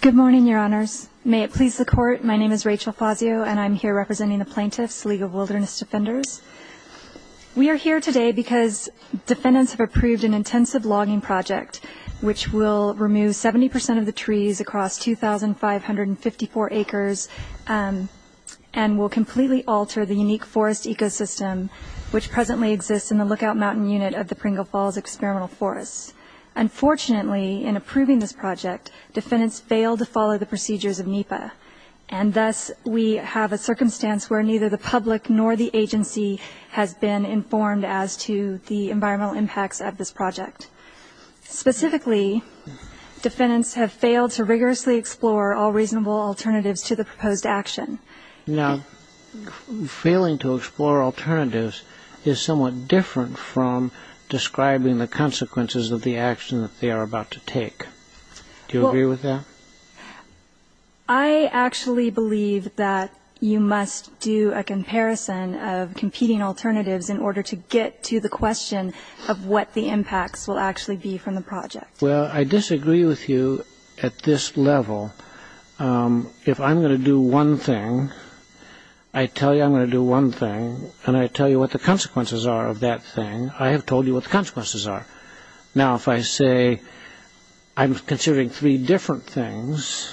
Good morning, Your Honors. May it please the Court, my name is Rachel Fazio and I'm here representing the Plaintiffs' League of Wilderness Defenders. We are here today because defendants have approved an intensive logging project which will remove 70% of the trees across 2,554 acres and will completely alter the unique forest ecosystem which presently exists in the Lookout Mountain Unit of the Pringle Falls Experimental Forest. Unfortunately, in approving this project, defendants failed to follow the procedures of NEPA and thus we have a circumstance where neither the public nor the agency has been informed as to the environmental impacts of this project. Specifically, defendants have failed to rigorously explore all reasonable alternatives to the proposed action. Now, failing to explore alternatives is somewhat different from describing the consequences of the action that they are about to take. Do you agree with that? I actually believe that you must do a comparison of competing alternatives in order to get to the question of what the impacts will actually be from the project. Well, I disagree with you at this level. If I'm going to do one thing, I tell you I'm going to do one thing, and I tell you what the consequences are of that thing, I have told you what the consequences are. Now, if I say I'm considering three different things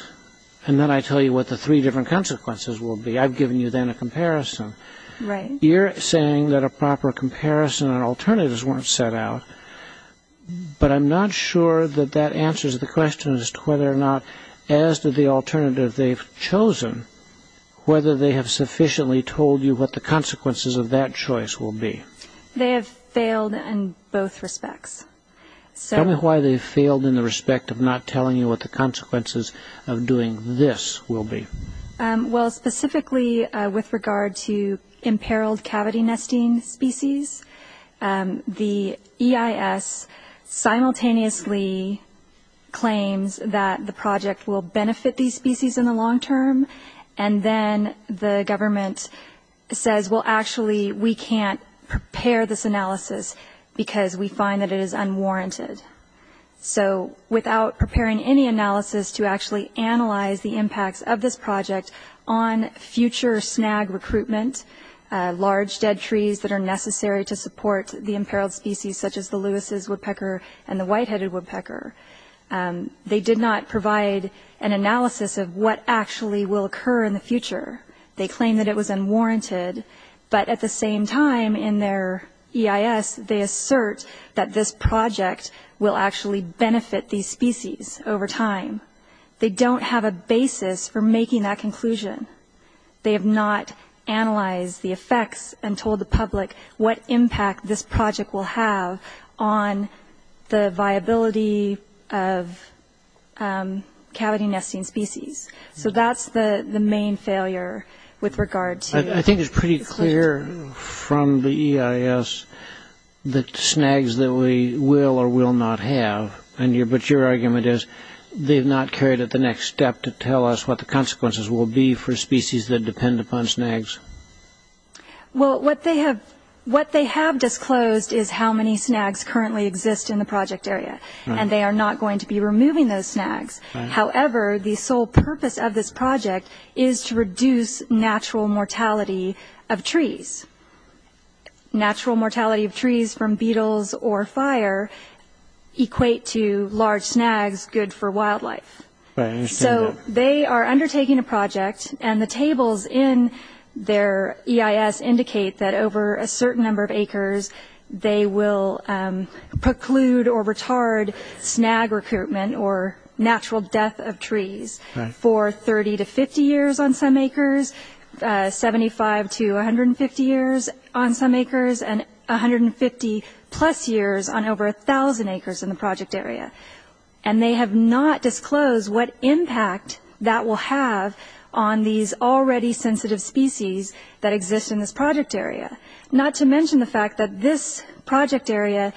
and then I tell you what the three different consequences will be, I've given you then a comparison. Right. You're saying that a proper comparison and alternatives weren't set out, but I'm not sure that that answers the question as to whether or not, as to the alternative they've chosen, whether they have sufficiently told you what the consequences of that choice will be. They have failed in both respects. Tell me why they failed in the respect of not telling you what the consequences of doing this will be. Well, specifically with regard to imperiled cavity nesting species, the EIS simultaneously claims that the project will benefit these species in the long term, and then the government says, well, actually, we can't prepare this analysis because we find that it is unwarranted. So without preparing any analysis to actually analyze the impacts of this project on future snag recruitment, large dead trees that are necessary to support the imperiled species such as the Lewis's woodpecker and the white-headed woodpecker, they did not provide an analysis of what actually will occur in the future. They claim that it was unwarranted, but at the same time in their EIS, they assert that this project will actually benefit these species over time. They don't have a basis for making that conclusion. They have not analyzed the effects and told the public what impact this project will have on the viability of cavity nesting species. So that's the main failure with regard to the project. I think it's pretty clear from the EIS that snags that we will or will not have, but your argument is they've not carried it the next step to tell us what the consequences will be for species that depend upon snags. Well, what they have disclosed is how many snags currently exist in the project area, and they are not going to be removing those snags. However, the sole purpose of this project is to reduce natural mortality of trees. Natural mortality of trees from beetles or fire equate to large snags good for wildlife. So they are undertaking a project, and the tables in their EIS indicate that over a certain number of acres, they will preclude or retard snag recruitment or natural death of trees for 30 to 50 years on some acres, 75 to 150 years on some acres, and 150-plus years on over 1,000 acres in the project area. And they have not disclosed what impact that will have on these already sensitive species that exist in this project area, not to mention the fact that this project area,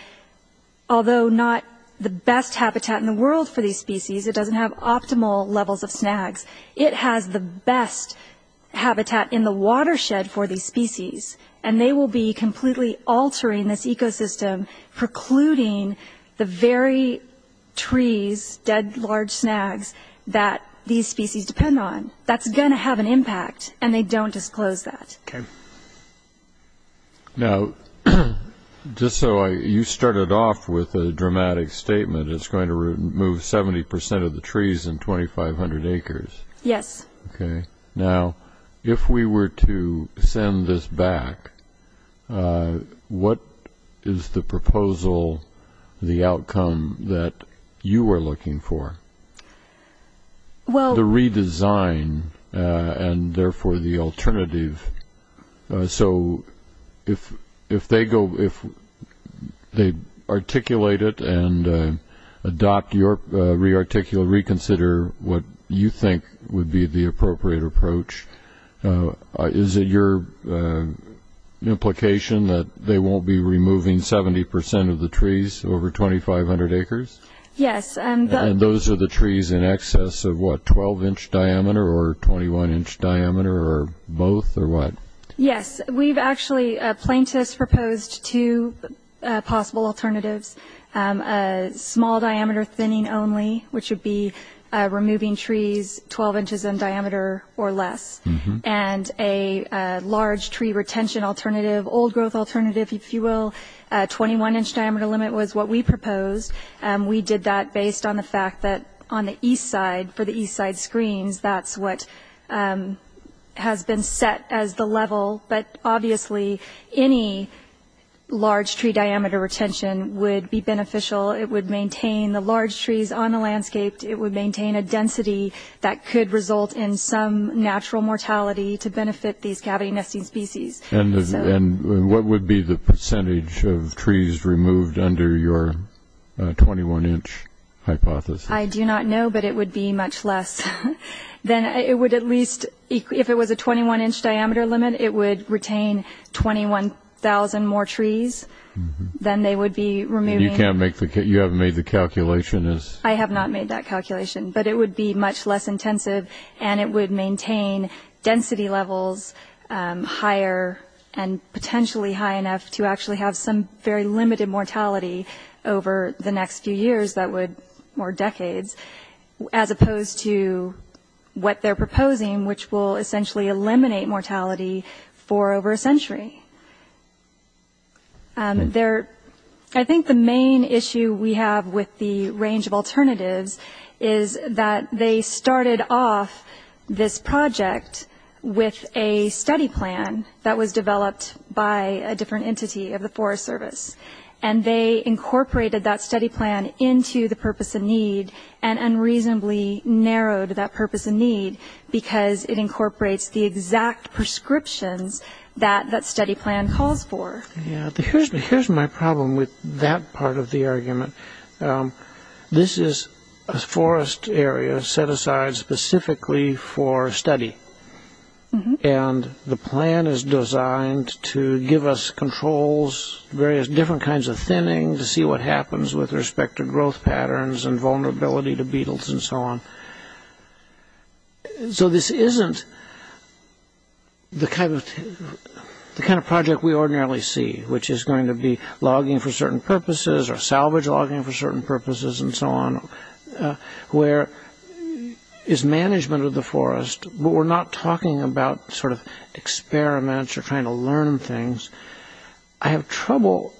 although not the best habitat in the world for these species, it doesn't have optimal levels of snags, it has the best habitat in the watershed for these species, and they will be completely altering this ecosystem, precluding the very trees, dead, large snags that these species depend on. That's going to have an impact, and they don't disclose that. Okay. Now, just so you started off with a dramatic statement, it's going to remove 70 percent of the trees in 2,500 acres. Yes. Okay. Now, if we were to send this back, what is the proposal, the outcome that you are looking for? The redesign and, therefore, the alternative. So if they articulate it and adopt your reconsider what you think would be the appropriate approach, is it your implication that they won't be removing 70 percent of the trees over 2,500 acres? Yes. And those are the trees in excess of what, 12-inch diameter or 21-inch diameter or both or what? Yes. We've actually, plaintiffs proposed two possible alternatives, small diameter thinning only, which would be removing trees 12 inches in diameter or less, and a large tree retention alternative, old growth alternative, if you will, 21-inch diameter limit was what we proposed. We did that based on the fact that on the east side, for the east side screens, that's what has been set as the level. But, obviously, any large tree diameter retention would be beneficial. It would maintain the large trees on the landscape. It would maintain a density that could result in some natural mortality to benefit these cavity nesting species. And what would be the percentage of trees removed under your 21-inch hypothesis? I do not know, but it would be much less. Then it would at least, if it was a 21-inch diameter limit, it would retain 21,000 more trees than they would be removing. And you can't make the, you haven't made the calculation? I have not made that calculation, but it would be much less intensive, and it would maintain density levels higher and potentially high enough to actually have some very limited mortality over the next few years that would, or decades, as opposed to what they're proposing, which will essentially eliminate mortality for over a century. There, I think the main issue we have with the range of alternatives is that they started off this project with a study plan that was developed by a different entity of the Forest Service. And they incorporated that study plan into the purpose of need and unreasonably narrowed that purpose of need because it incorporates the exact prescriptions that that study plan calls for. Here's my problem with that part of the argument. This is a forest area set aside specifically for study, and the plan is designed to give us controls, various different kinds of thinning to see what happens with respect to growth patterns and vulnerability to beetles and so on. So this isn't the kind of project we ordinarily see, which is going to be logging for certain purposes or salvage logging for certain purposes and so on, where it's management of the forest, but we're not talking about sort of experiments or trying to learn things. I have trouble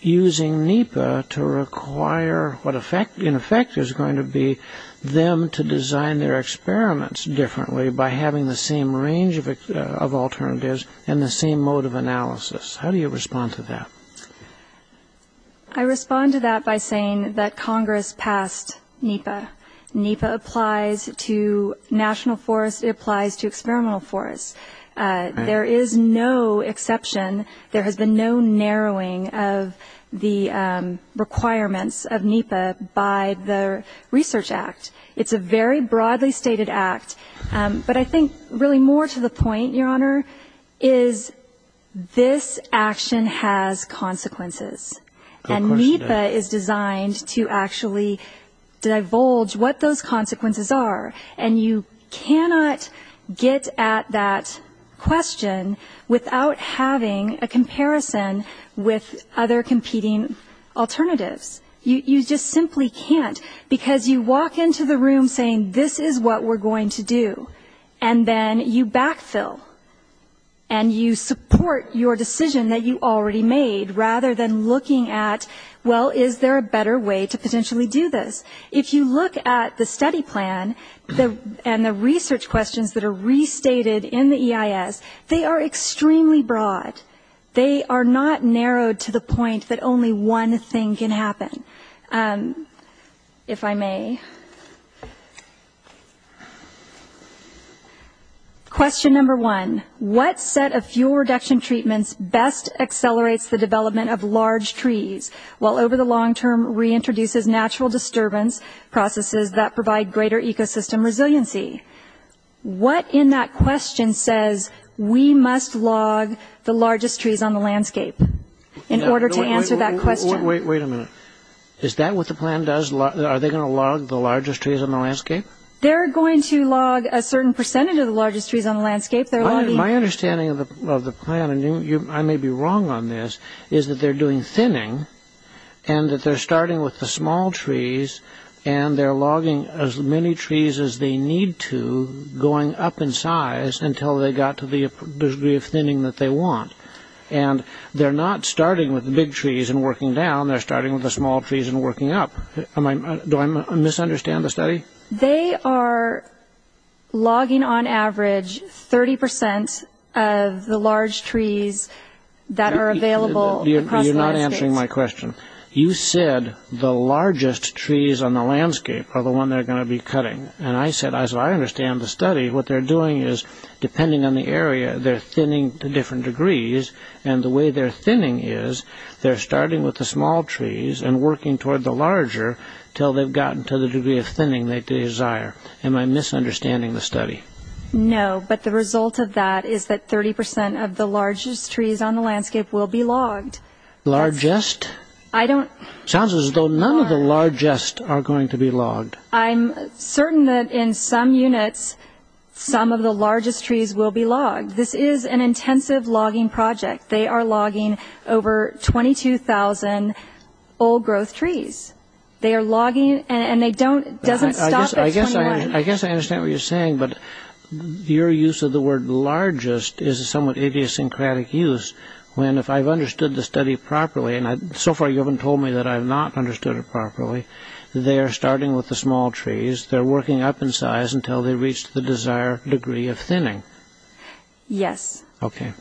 using NEPA to require what in effect is going to be them to design their experiments differently by having the same range of alternatives and the same mode of analysis. How do you respond to that? I respond to that by saying that Congress passed NEPA. NEPA applies to national forests. It applies to experimental forests. There is no exception. There has been no narrowing of the requirements of NEPA by the Research Act. It's a very broadly stated act. But I think really more to the point, Your Honor, is this action has consequences. And NEPA is designed to actually divulge what those consequences are. And you cannot get at that question without having a comparison with other competing alternatives. You just simply can't, because you walk into the room saying this is what we're going to do, and then you backfill and you support your decision that you already made, rather than looking at, well, is there a better way to potentially do this? If you look at the study plan and the research questions that are restated in the EIS, they are extremely broad. They are not narrowed to the point that only one thing can happen, if I may. Question number one, what set of fuel reduction treatments best accelerates the development of large trees, while over the long term reintroduces natural disturbance processes that provide greater ecosystem resiliency? What in that question says we must log the largest trees on the landscape in order to answer that question? Wait a minute. Is that what the plan does? Are they going to log the largest trees on the landscape? They're going to log a certain percentage of the largest trees on the landscape. My understanding of the plan, and I may be wrong on this, is that they're doing thinning, and that they're starting with the small trees, and they're logging as many trees as they need to going up in size until they got to the degree of thinning that they want. And they're not starting with the big trees and working down, they're starting with the small trees and working up. Do I misunderstand the study? They are logging, on average, 30% of the large trees that are available across the landscape. You're not answering my question. You said the largest trees on the landscape are the ones they're going to be cutting. And I said, I understand the study. What they're doing is, depending on the area, they're thinning to different degrees, and the way they're thinning is they're starting with the small trees and working toward the larger until they've gotten to the degree of thinning they desire. Am I misunderstanding the study? No, but the result of that is that 30% of the largest trees on the landscape will be logged. Largest? Sounds as though none of the largest are going to be logged. I'm certain that in some units, some of the largest trees will be logged. This is an intensive logging project. They are logging over 22,000 old growth trees. They are logging, and it doesn't stop at 21. I guess I understand what you're saying, but your use of the word largest is a somewhat idiosyncratic use when, if I've understood the study properly, and so far you haven't told me that I've not understood it properly, they are starting with the small trees, they're working up in size until they reach the desired degree of thinning. Yes. Okay.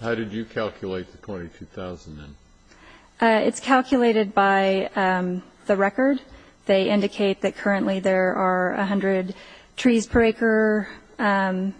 How did you calculate the 22,000 then? It's calculated by the record. They indicate that currently there are 100 trees per acre, and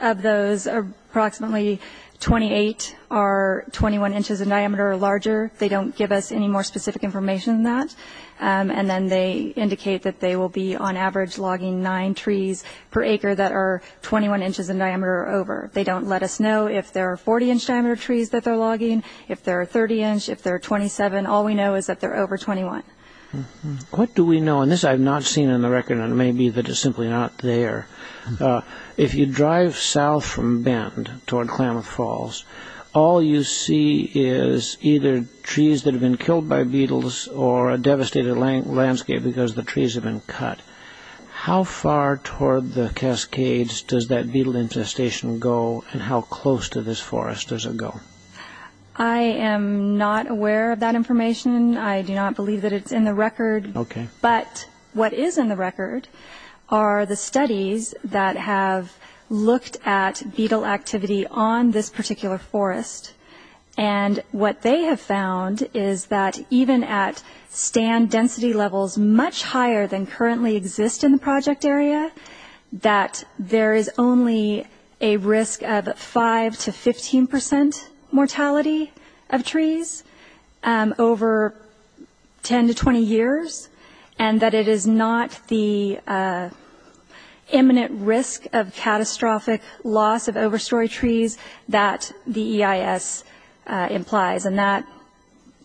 of those approximately 28 are 21 inches in diameter or larger. They don't give us any more specific information than that. And then they indicate that they will be, on average, logging nine trees per acre that are 21 inches in diameter or over. They don't let us know if there are 40-inch diameter trees that they're logging, if there are 30-inch, if there are 27. All we know is that they're over 21. What do we know? And this I've not seen in the record, and it may be that it's simply not there. If you drive south from Benton toward Klamath Falls, all you see is either trees that have been killed by beetles or a devastated landscape because the trees have been cut. How far toward the Cascades does that beetle infestation go, and how close to this forest does it go? I am not aware of that information. I do not believe that it's in the record. Okay. But what is in the record are the studies that have looked at beetle activity on this particular forest, and what they have found is that even at stand density levels much higher than currently exist in the project area, that there is only a risk of 5% to 15% mortality of trees over 10 to 20 years, and that it is not the imminent risk of catastrophic loss of overstory trees that the EIS implies,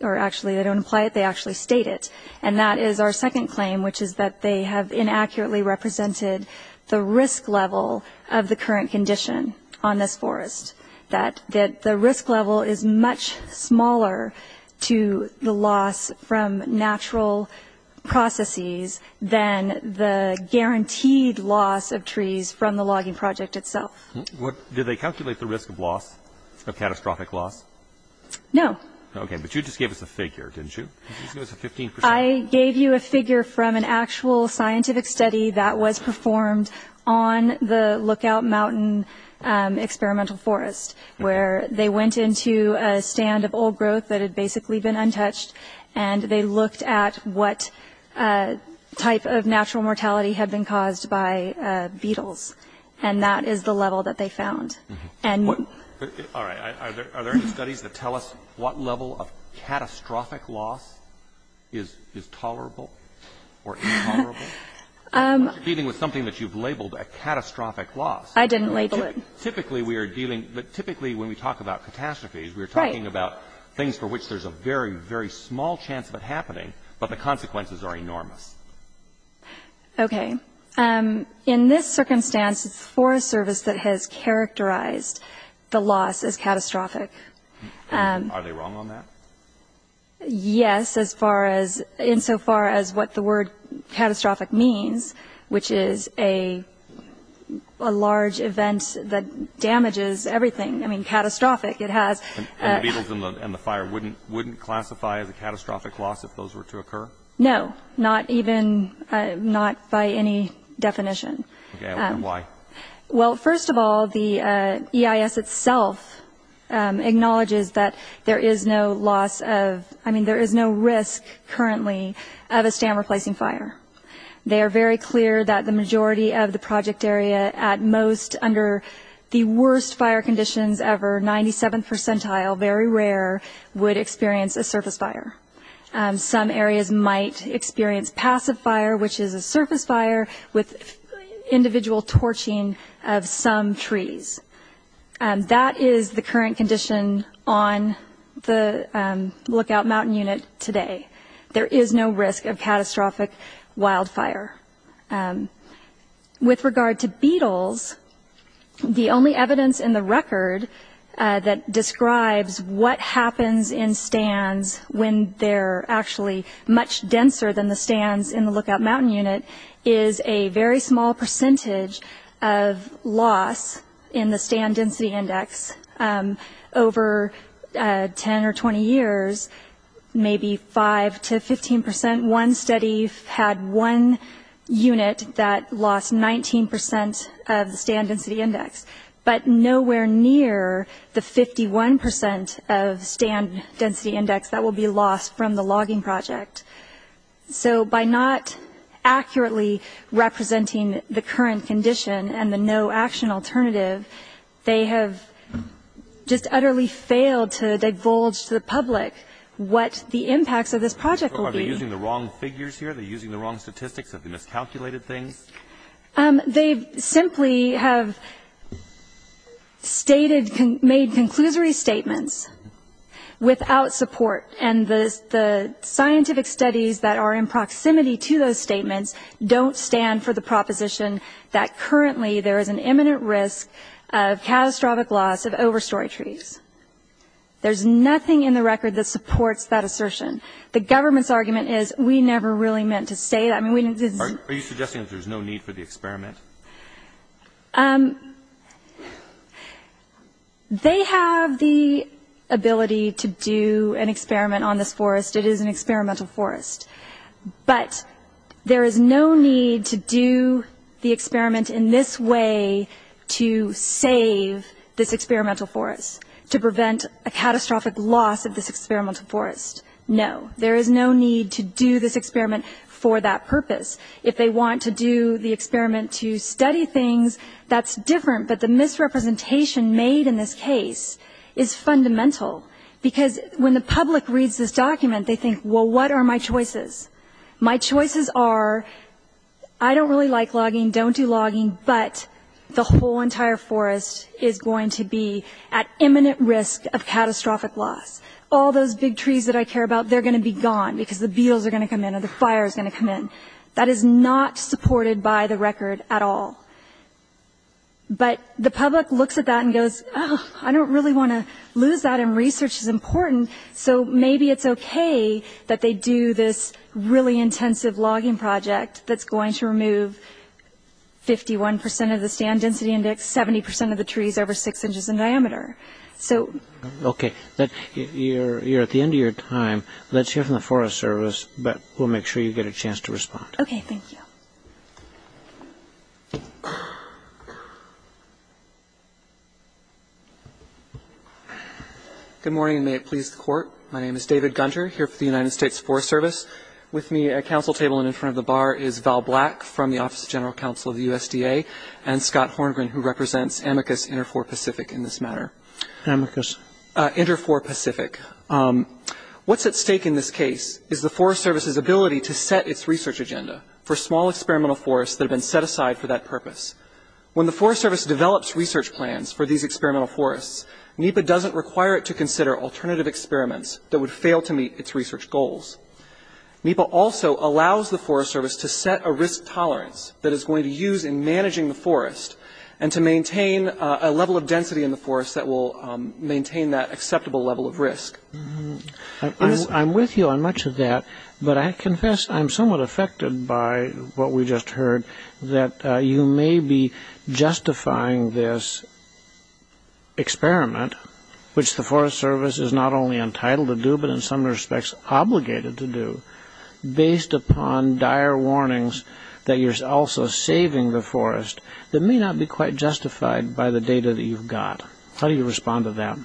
or actually they don't imply it, they actually state it. And that is our second claim, which is that they have inaccurately represented the risk level of the current condition on this forest, that the risk level is much smaller to the loss from natural processes than the guaranteed loss of trees from the logging project itself. Did they calculate the risk of loss, of catastrophic loss? No. Okay. But you just gave us a figure, didn't you? You just gave us a 15%. I gave you a figure from an actual scientific study that was performed on the Lookout Mountain Experimental Forest, where they went into a stand of old growth that had basically been untouched, and they looked at what type of natural mortality had been caused by beetles, and that is the level that they found. All right. Are there any studies that tell us what level of catastrophic loss is tolerable or intolerable? You're dealing with something that you've labeled a catastrophic loss. I didn't label it. Typically, we are dealing – typically when we talk about catastrophes, we are talking about things for which there's a very, very small chance of it happening, but the consequences are enormous. Okay. In this circumstance, it's the Forest Service that has characterized the loss as catastrophic. Are they wrong on that? Yes, as far as – insofar as what the word catastrophic means, which is a large event that damages everything. I mean, catastrophic, it has – And the beetles and the fire wouldn't classify as a catastrophic loss if those were to occur? No, not even – not by any definition. Okay. Why? Well, first of all, the EIS itself acknowledges that there is no loss of – I mean, there is no risk currently of a stand-replacing fire. They are very clear that the majority of the project area at most under the worst fire conditions ever, 97th percentile, very rare, would experience a surface fire. Some areas might experience passive fire, which is a surface fire with individual torching of some trees. That is the current condition on the lookout mountain unit today. There is no risk of catastrophic wildfire. With regard to beetles, the only evidence in the record that describes what happens in stands when they're actually much denser than the stands in the lookout mountain unit is a very small percentage of loss in the stand density index. Over 10 or 20 years, maybe 5 to 15 percent. One study had one unit that lost 19 percent of the stand density index, but nowhere near the 51 percent of stand density index that will be lost from the logging project. So by not accurately representing the current condition and the no-action alternative, they have just utterly failed to divulge to the public what the impacts of this project will be. Are they using the wrong figures here? Are they using the wrong statistics? Have they miscalculated things? They simply have stated, made conclusory statements without support, and the scientific studies that are in proximity to those statements don't stand for the proposition that currently there is an imminent risk of catastrophic loss of overstory trees. There's nothing in the record that supports that assertion. The government's argument is we never really meant to say that. Are you suggesting that there's no need for the experiment? They have the ability to do an experiment on this forest. It is an experimental forest. But there is no need to do the experiment in this way to save this experimental forest, to prevent a catastrophic loss of this experimental forest. No. There is no need to do this experiment for that purpose. If they want to do the experiment to study things, that's different. But the misrepresentation made in this case is fundamental, because when the public reads this document, they think, well, what are my choices? My choices are I don't really like logging, don't do logging, but the whole entire forest is going to be at imminent risk of catastrophic loss. All those big trees that I care about, they're going to be gone, because the beetles are going to come in or the fire is going to come in. That is not supported by the record at all. But the public looks at that and goes, oh, I don't really want to lose that, and research is important. So maybe it's okay that they do this really intensive logging project that's going to remove 51 percent of the stand density index, 70 percent of the trees over six inches in diameter. Okay. You're at the end of your time. Let's hear from the Forest Service, but we'll make sure you get a chance to respond. Okay, thank you. Good morning, and may it please the Court. My name is David Gunter, here for the United States Forest Service. With me at council table and in front of the bar is Val Black from the Office of General Counsel of the USDA, and Scott Horngren, who represents Amicus Inter4Pacific in this matter. Amicus. Inter4Pacific. What's at stake in this case is the Forest Service's ability to set its research agenda for small experimental forests that have been set aside for that purpose. When the Forest Service develops research plans for these experimental forests, NEPA doesn't require it to consider alternative experiments that would fail to meet its research goals. NEPA also allows the Forest Service to set a risk tolerance that it's going to use in managing the forest, and to maintain a level of density in the forest that will maintain that acceptable level of risk. I'm with you on much of that, but I confess I'm somewhat affected by what we just heard, that you may be justifying this experiment, which the Forest Service is not only entitled to do, but in some respects obligated to do, based upon dire warnings that you're also saving the forest that may not be quite justified by the data that you've got. How do you respond to that?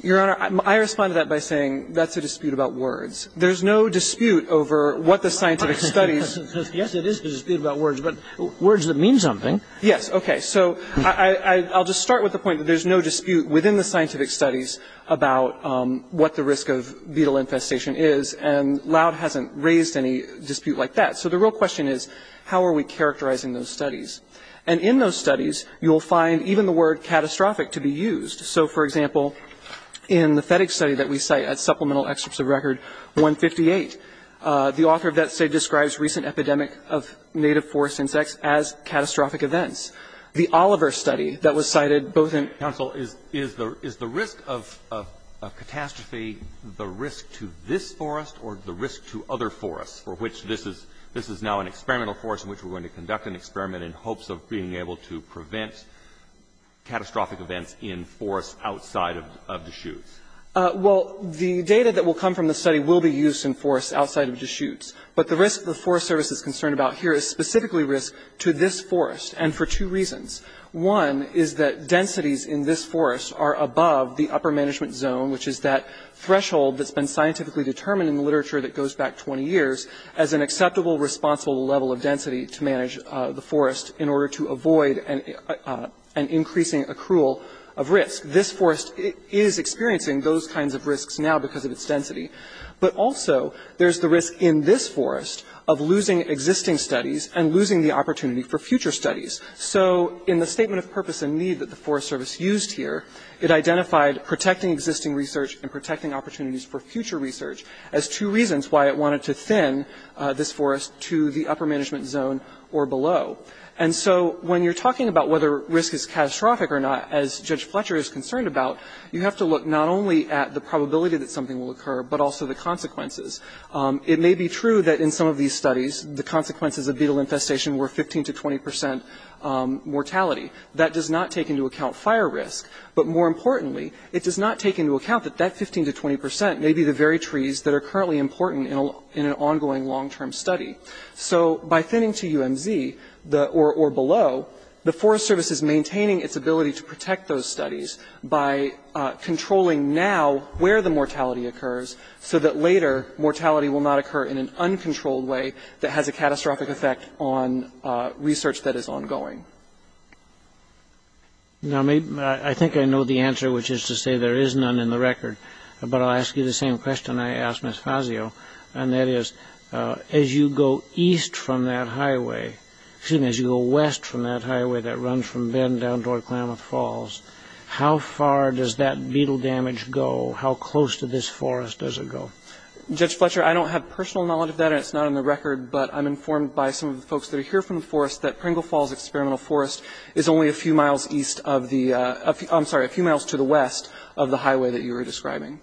Your Honor, I respond to that by saying that's a dispute about words. There's no dispute over what the scientific studies... Yes, it is a dispute about words, but words that mean something. Yes, okay. So I'll just start with the point that there's no dispute within the scientific studies about what the risk of beetle infestation is, and Loud hasn't raised any dispute like that. So the real question is, how are we characterizing those studies? And in those studies, you'll find even the word catastrophic to be used. So, for example, in the FedEx study that we cite at Supplemental Excerpts of Record 158, the author of that study describes recent epidemic of native forest insects as catastrophic events. The Oliver study that was cited both in... Counsel, is the risk of catastrophe the risk to this forest or the risk to other forests for which this is now an experimental forest in which we're going to conduct an experiment in hopes of being able to prevent catastrophic events in forests outside of Deschutes? Well, the data that will come from the study will be used in forests outside of Deschutes, but the risk the Forest Service is concerned about here is specifically risk to this forest, and for two reasons. One is that densities in this forest are above the upper management zone, which is that threshold that's been scientifically determined in the literature that goes back 20 years as an acceptable, responsible level of density to manage the forest in order to avoid an increasing accrual of risk. This forest is experiencing those kinds of risks now because of its density, but also there's the risk in this forest of losing existing studies and losing the opportunity for future studies. So in the statement of purpose and need that the Forest Service used here, it identified protecting existing research and protecting opportunities for future research as two reasons why it wanted to thin this forest to the upper management zone or below. And so when you're talking about whether risk is catastrophic or not, as Judge Fletcher is concerned about, you have to look not only at the probability that something will occur, but also the consequences. It may be true that in some of these studies the consequences of beetle infestation were 15 to 20 percent mortality. That does not take into account fire risk. But more importantly, it does not take into account that that 15 to 20 percent may be the very trees that are currently important in an ongoing long-term study. So by thinning to UMZ or below, the Forest Service is maintaining its ability to protect those studies by controlling now where the mortality occurs so that later mortality will not occur in an uncontrolled way that has a catastrophic effect on research that is ongoing. Now, I think I know the answer, which is to say there is none in the record. But I'll ask you the same question I asked Ms. Fazio, and that is, as you go east from that highway, excuse me, as you go west from that highway that runs from Bend down toward Klamath Falls, how far does that beetle damage go? How close to this forest does it go? Judge Fletcher, I don't have personal knowledge of that, and it's not on the record, but I'm informed by some of the folks that are here from the forest that Pringle Falls Experimental Forest is only a few miles east of the – I'm sorry, a few miles to the west of the highway that you were describing.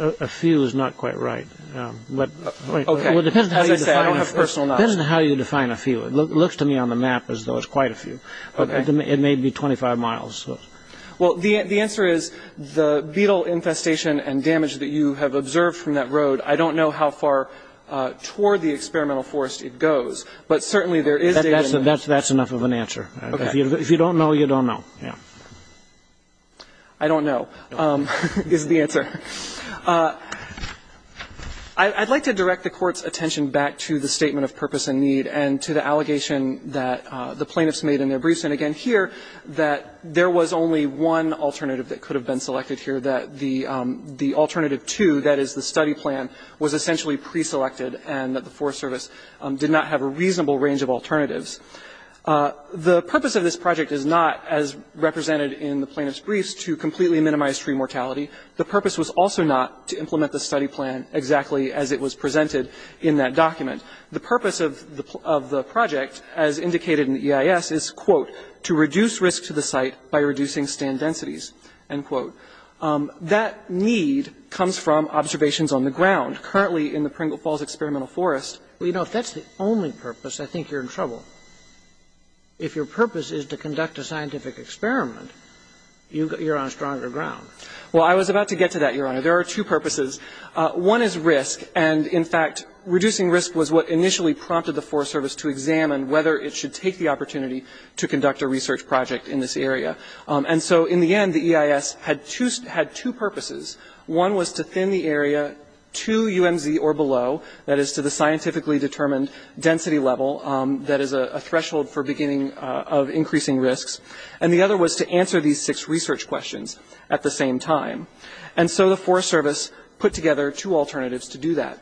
A few is not quite right. Okay. As I said, I don't have personal knowledge. It depends on how you define a few. It looks to me on the map as though it's quite a few. Okay. It may be 25 miles. Well, the answer is the beetle infestation and damage that you have observed from that road, I don't know how far toward the experimental forest it goes, but certainly there is a – That's enough of an answer. Okay. If you don't know, you don't know. Yeah. I don't know is the answer. I'd like to direct the Court's attention back to the statement of purpose and need and to the allegation that the plaintiffs made in their briefs, and again here, that there was only one alternative that could have been selected here, that the alternative two, that is the study plan, was essentially preselected and that the Forest Service did not have a reasonable range of alternatives. The purpose of this project is not, as represented in the plaintiff's briefs, to completely minimize tree mortality. The purpose was also not to implement the study plan exactly as it was presented in that document. The purpose of the project, as indicated in the EIS, is, quote, That need comes from observations on the ground, currently in the Pringle Falls Experimental Forest. Well, you know, if that's the only purpose, I think you're in trouble. If your purpose is to conduct a scientific experiment, you're on stronger ground. Well, I was about to get to that, Your Honor. There are two purposes. One is risk, and, in fact, reducing risk was what initially prompted the Forest Service to examine whether it should take the opportunity to conduct a research project in this area. And so, in the end, the EIS had two purposes. One was to thin the area to UMZ or below, that is to the scientifically determined density level, that is a threshold for beginning of increasing risks. And the other was to answer these six research questions at the same time. And so the Forest Service put together two alternatives to do that.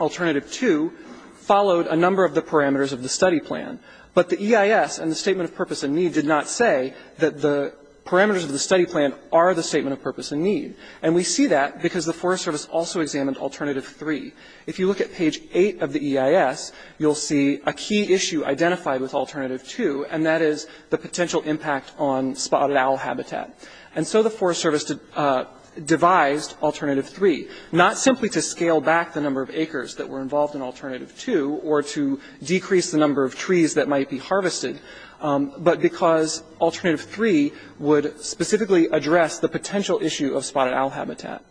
Alternative two followed a number of the parameters of the study plan, but the EIS and the statement of purpose and need did not say that the parameters of the study plan are the statement of purpose and need. And we see that because the Forest Service also examined alternative three. If you look at page eight of the EIS, you'll see a key issue identified with alternative two, and that is the potential impact on spotted owl habitat. And so the Forest Service devised alternative three, not simply to scale back the number of acres that were involved in alternative two or to decrease the number of trees that might be harvested, but because alternative three would specifically address the potential issue of spotted owl habitat.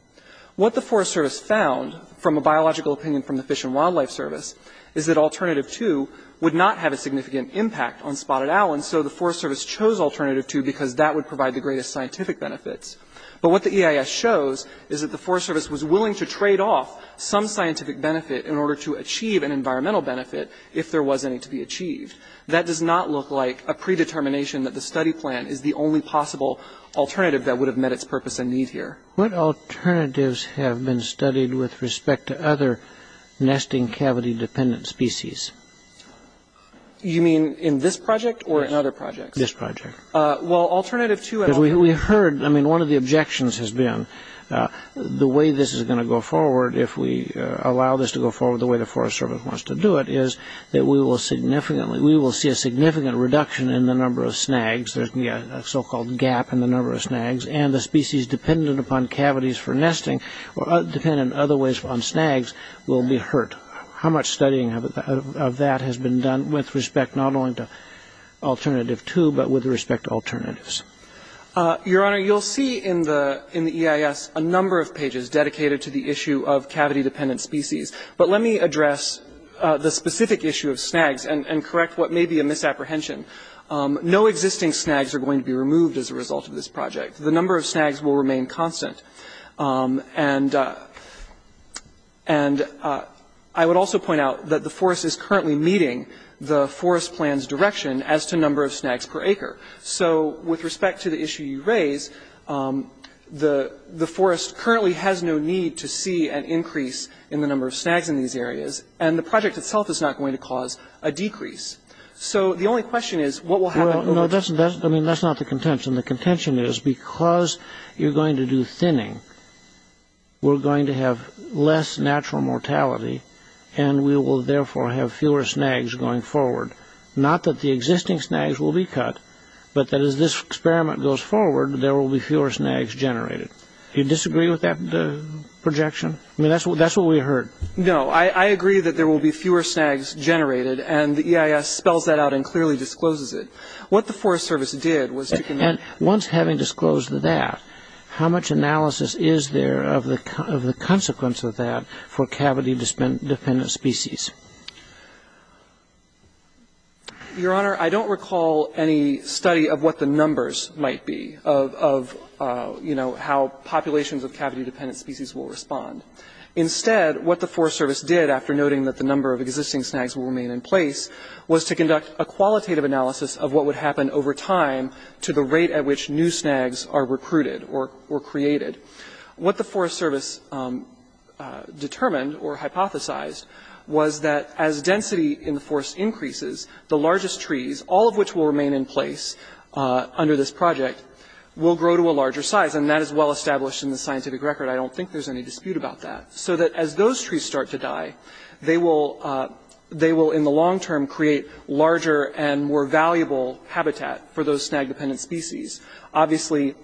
What the Forest Service found from a biological opinion from the Fish and Wildlife Service is that alternative two would not have a significant impact on spotted owls, and so the Forest Service chose alternative two because that would provide the greatest scientific benefits. But what the EIS shows is that the Forest Service was willing to trade off some scientific benefit in order to achieve an environmental benefit if there was any to be achieved. That does not look like a predetermination that the study plan is the only possible alternative that would have met its purpose and need here. What alternatives have been studied with respect to other nesting cavity-dependent species? You mean in this project or in other projects? This project. Well, alternative two and alternative three. We heard, I mean, one of the objections has been the way this is going to go forward, if we allow this to go forward the way the Forest Service wants to do it, is that we will see a significant reduction in the number of snags, a so-called gap in the number of snags, and the species dependent upon cavities for nesting or dependent in other ways on snags will be hurt. How much studying of that has been done with respect not only to alternative two but with respect to alternatives? Your Honor, you will see in the EIS a number of pages dedicated to the issue of cavity-dependent species. But let me address the specific issue of snags and correct what may be a misapprehension. No existing snags are going to be removed as a result of this project. The number of snags will remain constant. And I would also point out that the forest is currently meeting the forest plan's direction as to number of snags per acre. So with respect to the issue you raise, the forest currently has no need to see an increase in the number of snags in these areas, and the project itself is not going to cause a decrease. So the only question is what will happen? No, that's not the contention. The contention is because you're going to do thinning, we're going to have less natural mortality, and we will therefore have fewer snags going forward. Not that the existing snags will be cut, but that as this experiment goes forward, there will be fewer snags generated. Do you disagree with that projection? I mean, that's what we heard. No, I agree that there will be fewer snags generated, and the EIS spells that out and clearly discloses it. What the Forest Service did was to commit... And once having disclosed that, how much analysis is there of the consequence of that for cavity-dependent species? Your Honor, I don't recall any study of what the numbers might be, of, you know, how populations of cavity-dependent species will respond. Instead, what the Forest Service did, after noting that the number of existing snags will remain in place, was to conduct a qualitative analysis of what would happen over time to the rate at which new snags are recruited or created. What the Forest Service determined or hypothesized was that as density in the forest increases, the largest trees, all of which will remain in place under this project, will grow to a larger size. And that is well established in the scientific record. I don't think there's any dispute about that. So that as those trees start to die, they will in the long term create larger and more valuable habitat for those snag-dependent species. Obviously,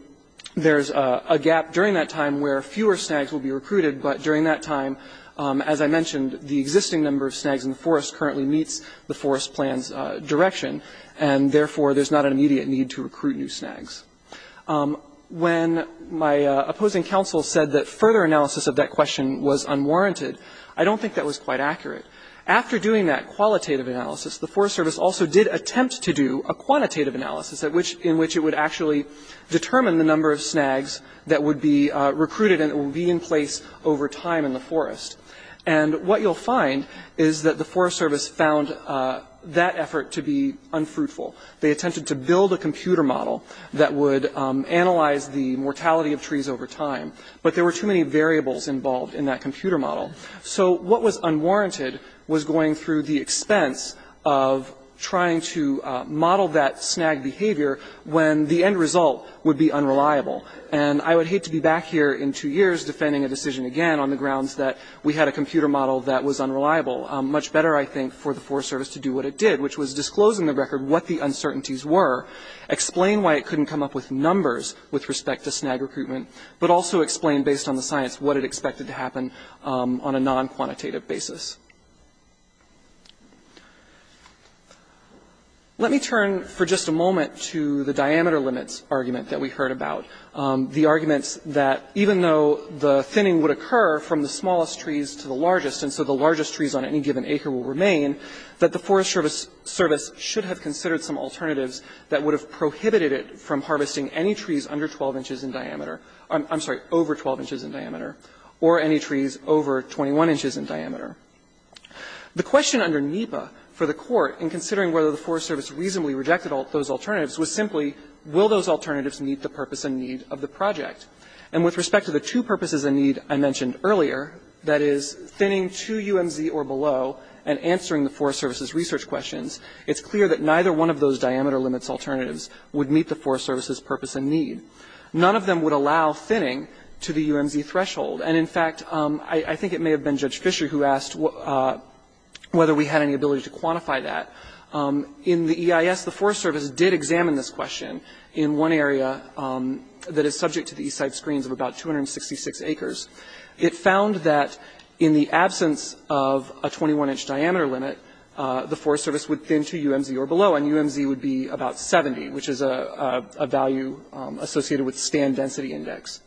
there's a gap during that time where fewer snags will be recruited, but during that time, as I mentioned, the existing number of snags in the forest currently meets the forest plan's direction, and therefore there's not an immediate need to recruit new snags. When my opposing counsel said that further analysis of that question was unwarranted, I don't think that was quite accurate. After doing that qualitative analysis, the Forest Service also did attempt to do a quantitative analysis in which it would actually determine the number of snags that would be recruited and that would be in place over time in the forest. And what you'll find is that the Forest Service found that effort to be unfruitful. They attempted to build a computer model that would analyze the mortality of trees over time, but there were too many variables involved in that computer model. So what was unwarranted was going through the expense of trying to model that snag behavior when the end result would be unreliable. And I would hate to be back here in two years defending a decision again on the grounds that we had a computer model that was unreliable. Much better, I think, for the Forest Service to do what it did, which was disclose in the record what the uncertainties were, explain why it couldn't come up with numbers with respect to snag recruitment, but also explain based on the science what it expected to happen on a non-quantitative basis. Let me turn for just a moment to the diameter limits argument that we heard about, the arguments that even though the thinning would occur from the smallest trees to the largest and so the largest trees on any given acre will remain, that the Forest Service should have considered some alternatives that would have prohibited it from harvesting any trees under 12 inches in diameter, I'm sorry, over 12 inches in diameter, or any trees over 21 inches in diameter. The question under NEPA for the Court in considering whether the Forest Service reasonably rejected those alternatives was simply will those alternatives meet the purpose and need of the project? And with respect to the two purposes and need I mentioned earlier, that is thinning to UMZ or below and answering the Forest Service's research questions, it's clear that neither one of those diameter limits alternatives would meet the Forest Service's purpose and need. None of them would allow thinning to the UMZ threshold. And, in fact, I think it may have been Judge Fisher who asked whether we had any ability to quantify that. In the EIS, the Forest Service did examine this question in one area that is subject to the east side screens of about 266 acres. It found that in the absence of a 21-inch diameter limit, the Forest Service would thin to UMZ or below, and UMZ would be about 70, which is a value associated with stand density index.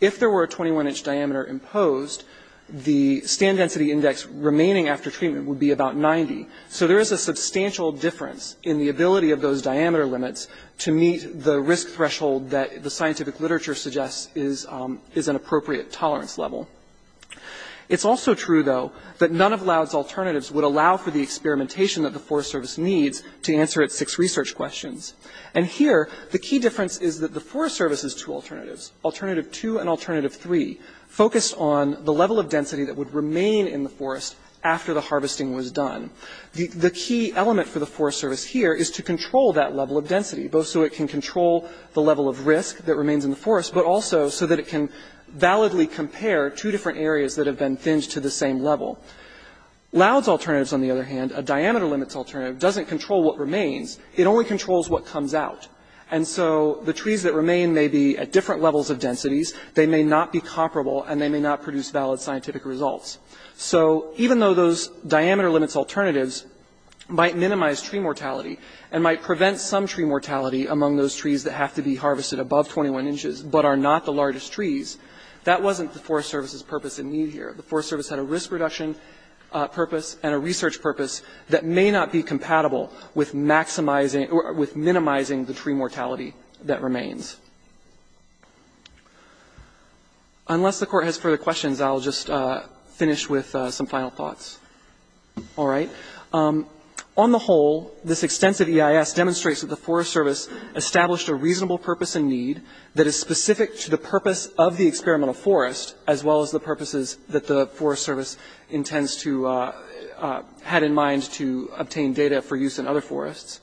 If there were a 21-inch diameter imposed, the stand density index remaining after treatment would be about 90. So there is a substantial difference in the ability of those diameter limits to meet the risk threshold that the scientific literature suggests is an appropriate tolerance level. It's also true, though, that none of Loud's alternatives would allow for the experimentation that the Forest Service needs to answer its six research questions. And here, the key difference is that the Forest Service has two alternatives, Alternative 2 and Alternative 3, focused on the level of density that would remain in the forest after the harvesting was done. The key element for the Forest Service here is to control that level of density, both so it can control the level of risk that remains in the forest, but also so that it can validly compare two different areas that have been thinned to the same level. Loud's alternatives, on the other hand, a diameter limits alternative, doesn't control what remains. It only controls what comes out. And so the trees that remain may be at different levels of densities. They may not be comparable, and they may not produce valid scientific results. So even though those diameter limits alternatives might minimize tree mortality and might prevent some tree mortality among those trees that have to be harvested above 21 inches but are not the largest trees, that wasn't the Forest Service's purpose and need here. The Forest Service had a risk reduction purpose and a research purpose that may not be compatible with minimizing the tree mortality that remains. Unless the Court has further questions, I'll just finish with some final thoughts. All right. On the whole, this extensive EIS demonstrates that the Forest Service established a reasonable purpose and need that is specific to the purpose of the experimental forest, as well as the purposes that the Forest Service intends to have in mind to obtain data for use in other forests.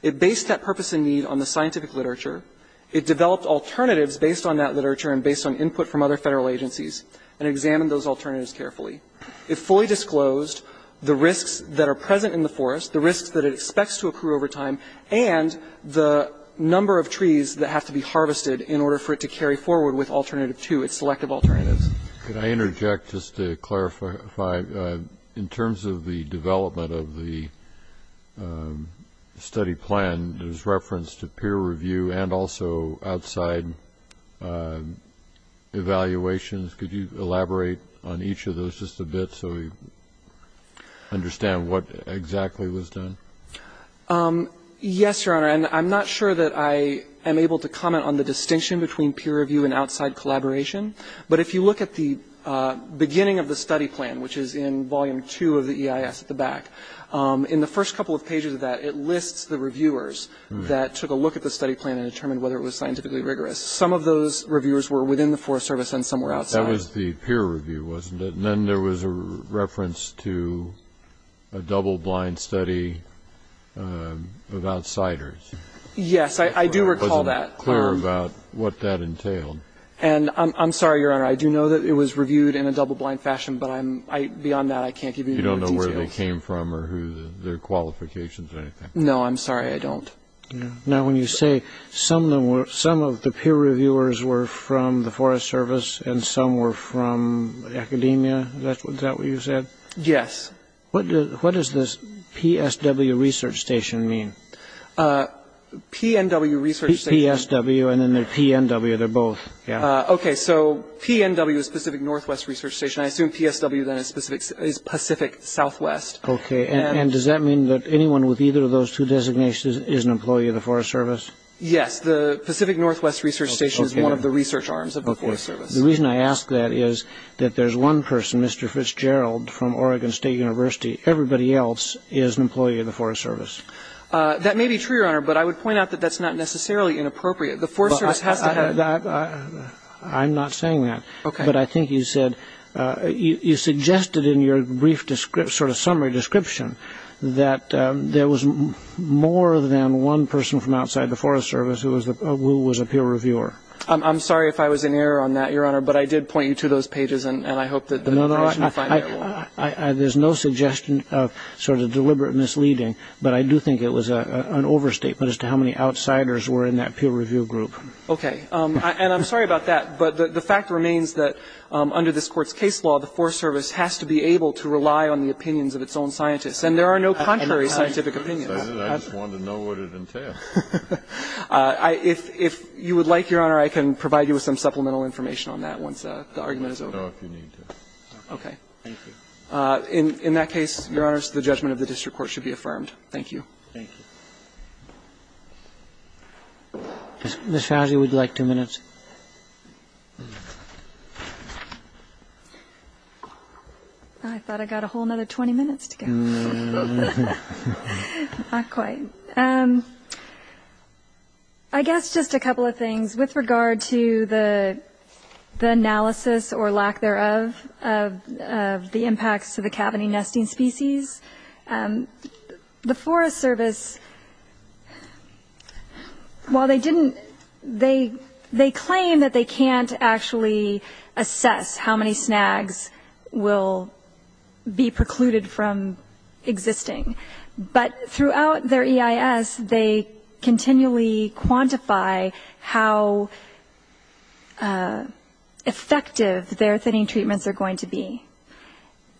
It based that purpose and need on the scientific literature. It developed alternatives based on that literature and based on input from other federal agencies and examined those alternatives carefully. It fully disclosed the risks that are present in the forest, the risks that it expects to accrue over time, and the number of trees that have to be harvested in order for it to carry forward with Alternative 2, its selective alternatives. Could I interject just to clarify? In terms of the development of the study plan, there's reference to peer review and also outside evaluations. Could you elaborate on each of those just a bit so we understand what exactly was done? Yes, Your Honor. And I'm not sure that I am able to comment on the distinction between peer review and outside collaboration. But if you look at the beginning of the study plan, which is in Volume 2 of the EIS at the back, in the first couple of pages of that, it lists the reviewers that took a look at the study plan and determined whether it was scientifically rigorous. Some of those reviewers were within the Forest Service and some were outside. That was the peer review, wasn't it? And then there was a reference to a double-blind study of outsiders. Yes, I do recall that. I wasn't clear about what that entailed. And I'm sorry, Your Honor, I do know that it was reviewed in a double-blind fashion, but beyond that, I can't give you any more details. You don't know where they came from or their qualifications or anything? No, I'm sorry. I don't. Now, when you say some of the peer reviewers were from the Forest Service and some were from academia, is that what you said? Yes. What does this PSW Research Station mean? PNW Research Station. PSW and then there's PNW. They're both. Okay. So PNW is Pacific Northwest Research Station. I assume PSW then is Pacific Southwest. Okay. And does that mean that anyone with either of those two designations is an employee of the Forest Service? Yes. The Pacific Northwest Research Station is one of the research arms of the Forest Service. The reason I ask that is that there's one person, Mr. Fitzgerald, from Oregon State University. Everybody else is an employee of the Forest Service. That may be true, Your Honor, but I would point out that that's not necessarily inappropriate. The Forest Service has to have. I'm not saying that. Okay. But I think you said you suggested in your brief sort of summary description that there was more than one person from outside the Forest Service who was a peer reviewer. I'm sorry if I was in error on that, Your Honor, but I did point you to those pages, and I hope that the person will find it. There's no suggestion of sort of deliberate misleading, but I do think it was an overstatement as to how many outsiders were in that peer review group. Okay. And I'm sorry about that, but the fact remains that under this Court's case law, the Forest Service has to be able to rely on the opinions of its own scientists. And there are no contrary scientific opinions. I just wanted to know what it entailed. If you would like, Your Honor, I can provide you with some supplemental information on that once the argument is over. I don't know if you need to. Okay. Thank you. In that case, Your Honor, the judgment of the district court should be affirmed. Thank you. Thank you. Ms. Fauci would like two minutes. I thought I got a whole other 20 minutes to go. Not quite. Okay. I guess just a couple of things. With regard to the analysis or lack thereof of the impacts to the cavity nesting species, the Forest Service, while they didn't they claim that they can't actually assess how many snags will be precluded from existing. But throughout their EIS, they continually quantify how effective their thinning treatments are going to be.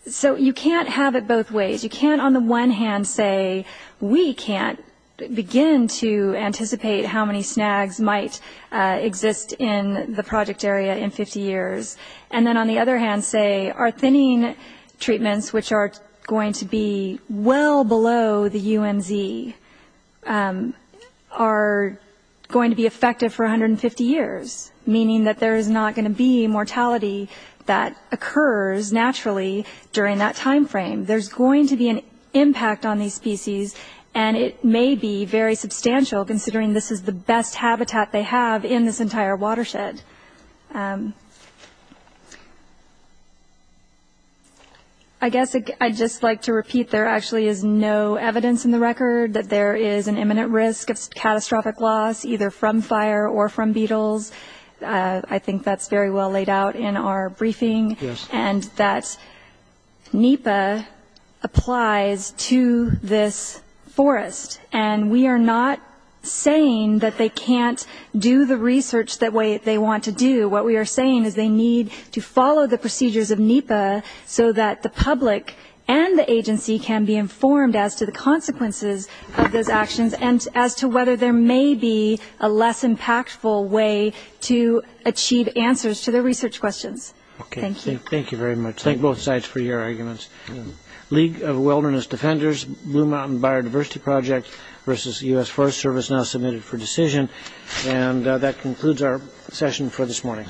So you can't have it both ways. You can't on the one hand say we can't begin to anticipate how many snags might exist in the project area in 50 years, and then on the other hand say our thinning treatments, which are going to be well below the UMZ, are going to be effective for 150 years, meaning that there is not going to be mortality that occurs naturally during that time frame. There's going to be an impact on these species, and it may be very substantial considering this is the best habitat they have in this entire watershed. I guess I'd just like to repeat there actually is no evidence in the record that there is an imminent risk of catastrophic loss, either from fire or from beetles. I think that's very well laid out in our briefing. And that NEPA applies to this forest. And we are not saying that they can't do the research the way they want to do. What we are saying is they need to follow the procedures of NEPA so that the public and the agency can be informed as to the consequences of those actions and as to whether there may be a less impactful way to achieve answers to their research questions. Thank you. Thank you very much. Thank both sides for your arguments. League of Wilderness Defenders, Blue Mountain Biodiversity Project versus the U.S. Forest Service now submitted for decision. And that concludes our session for this morning.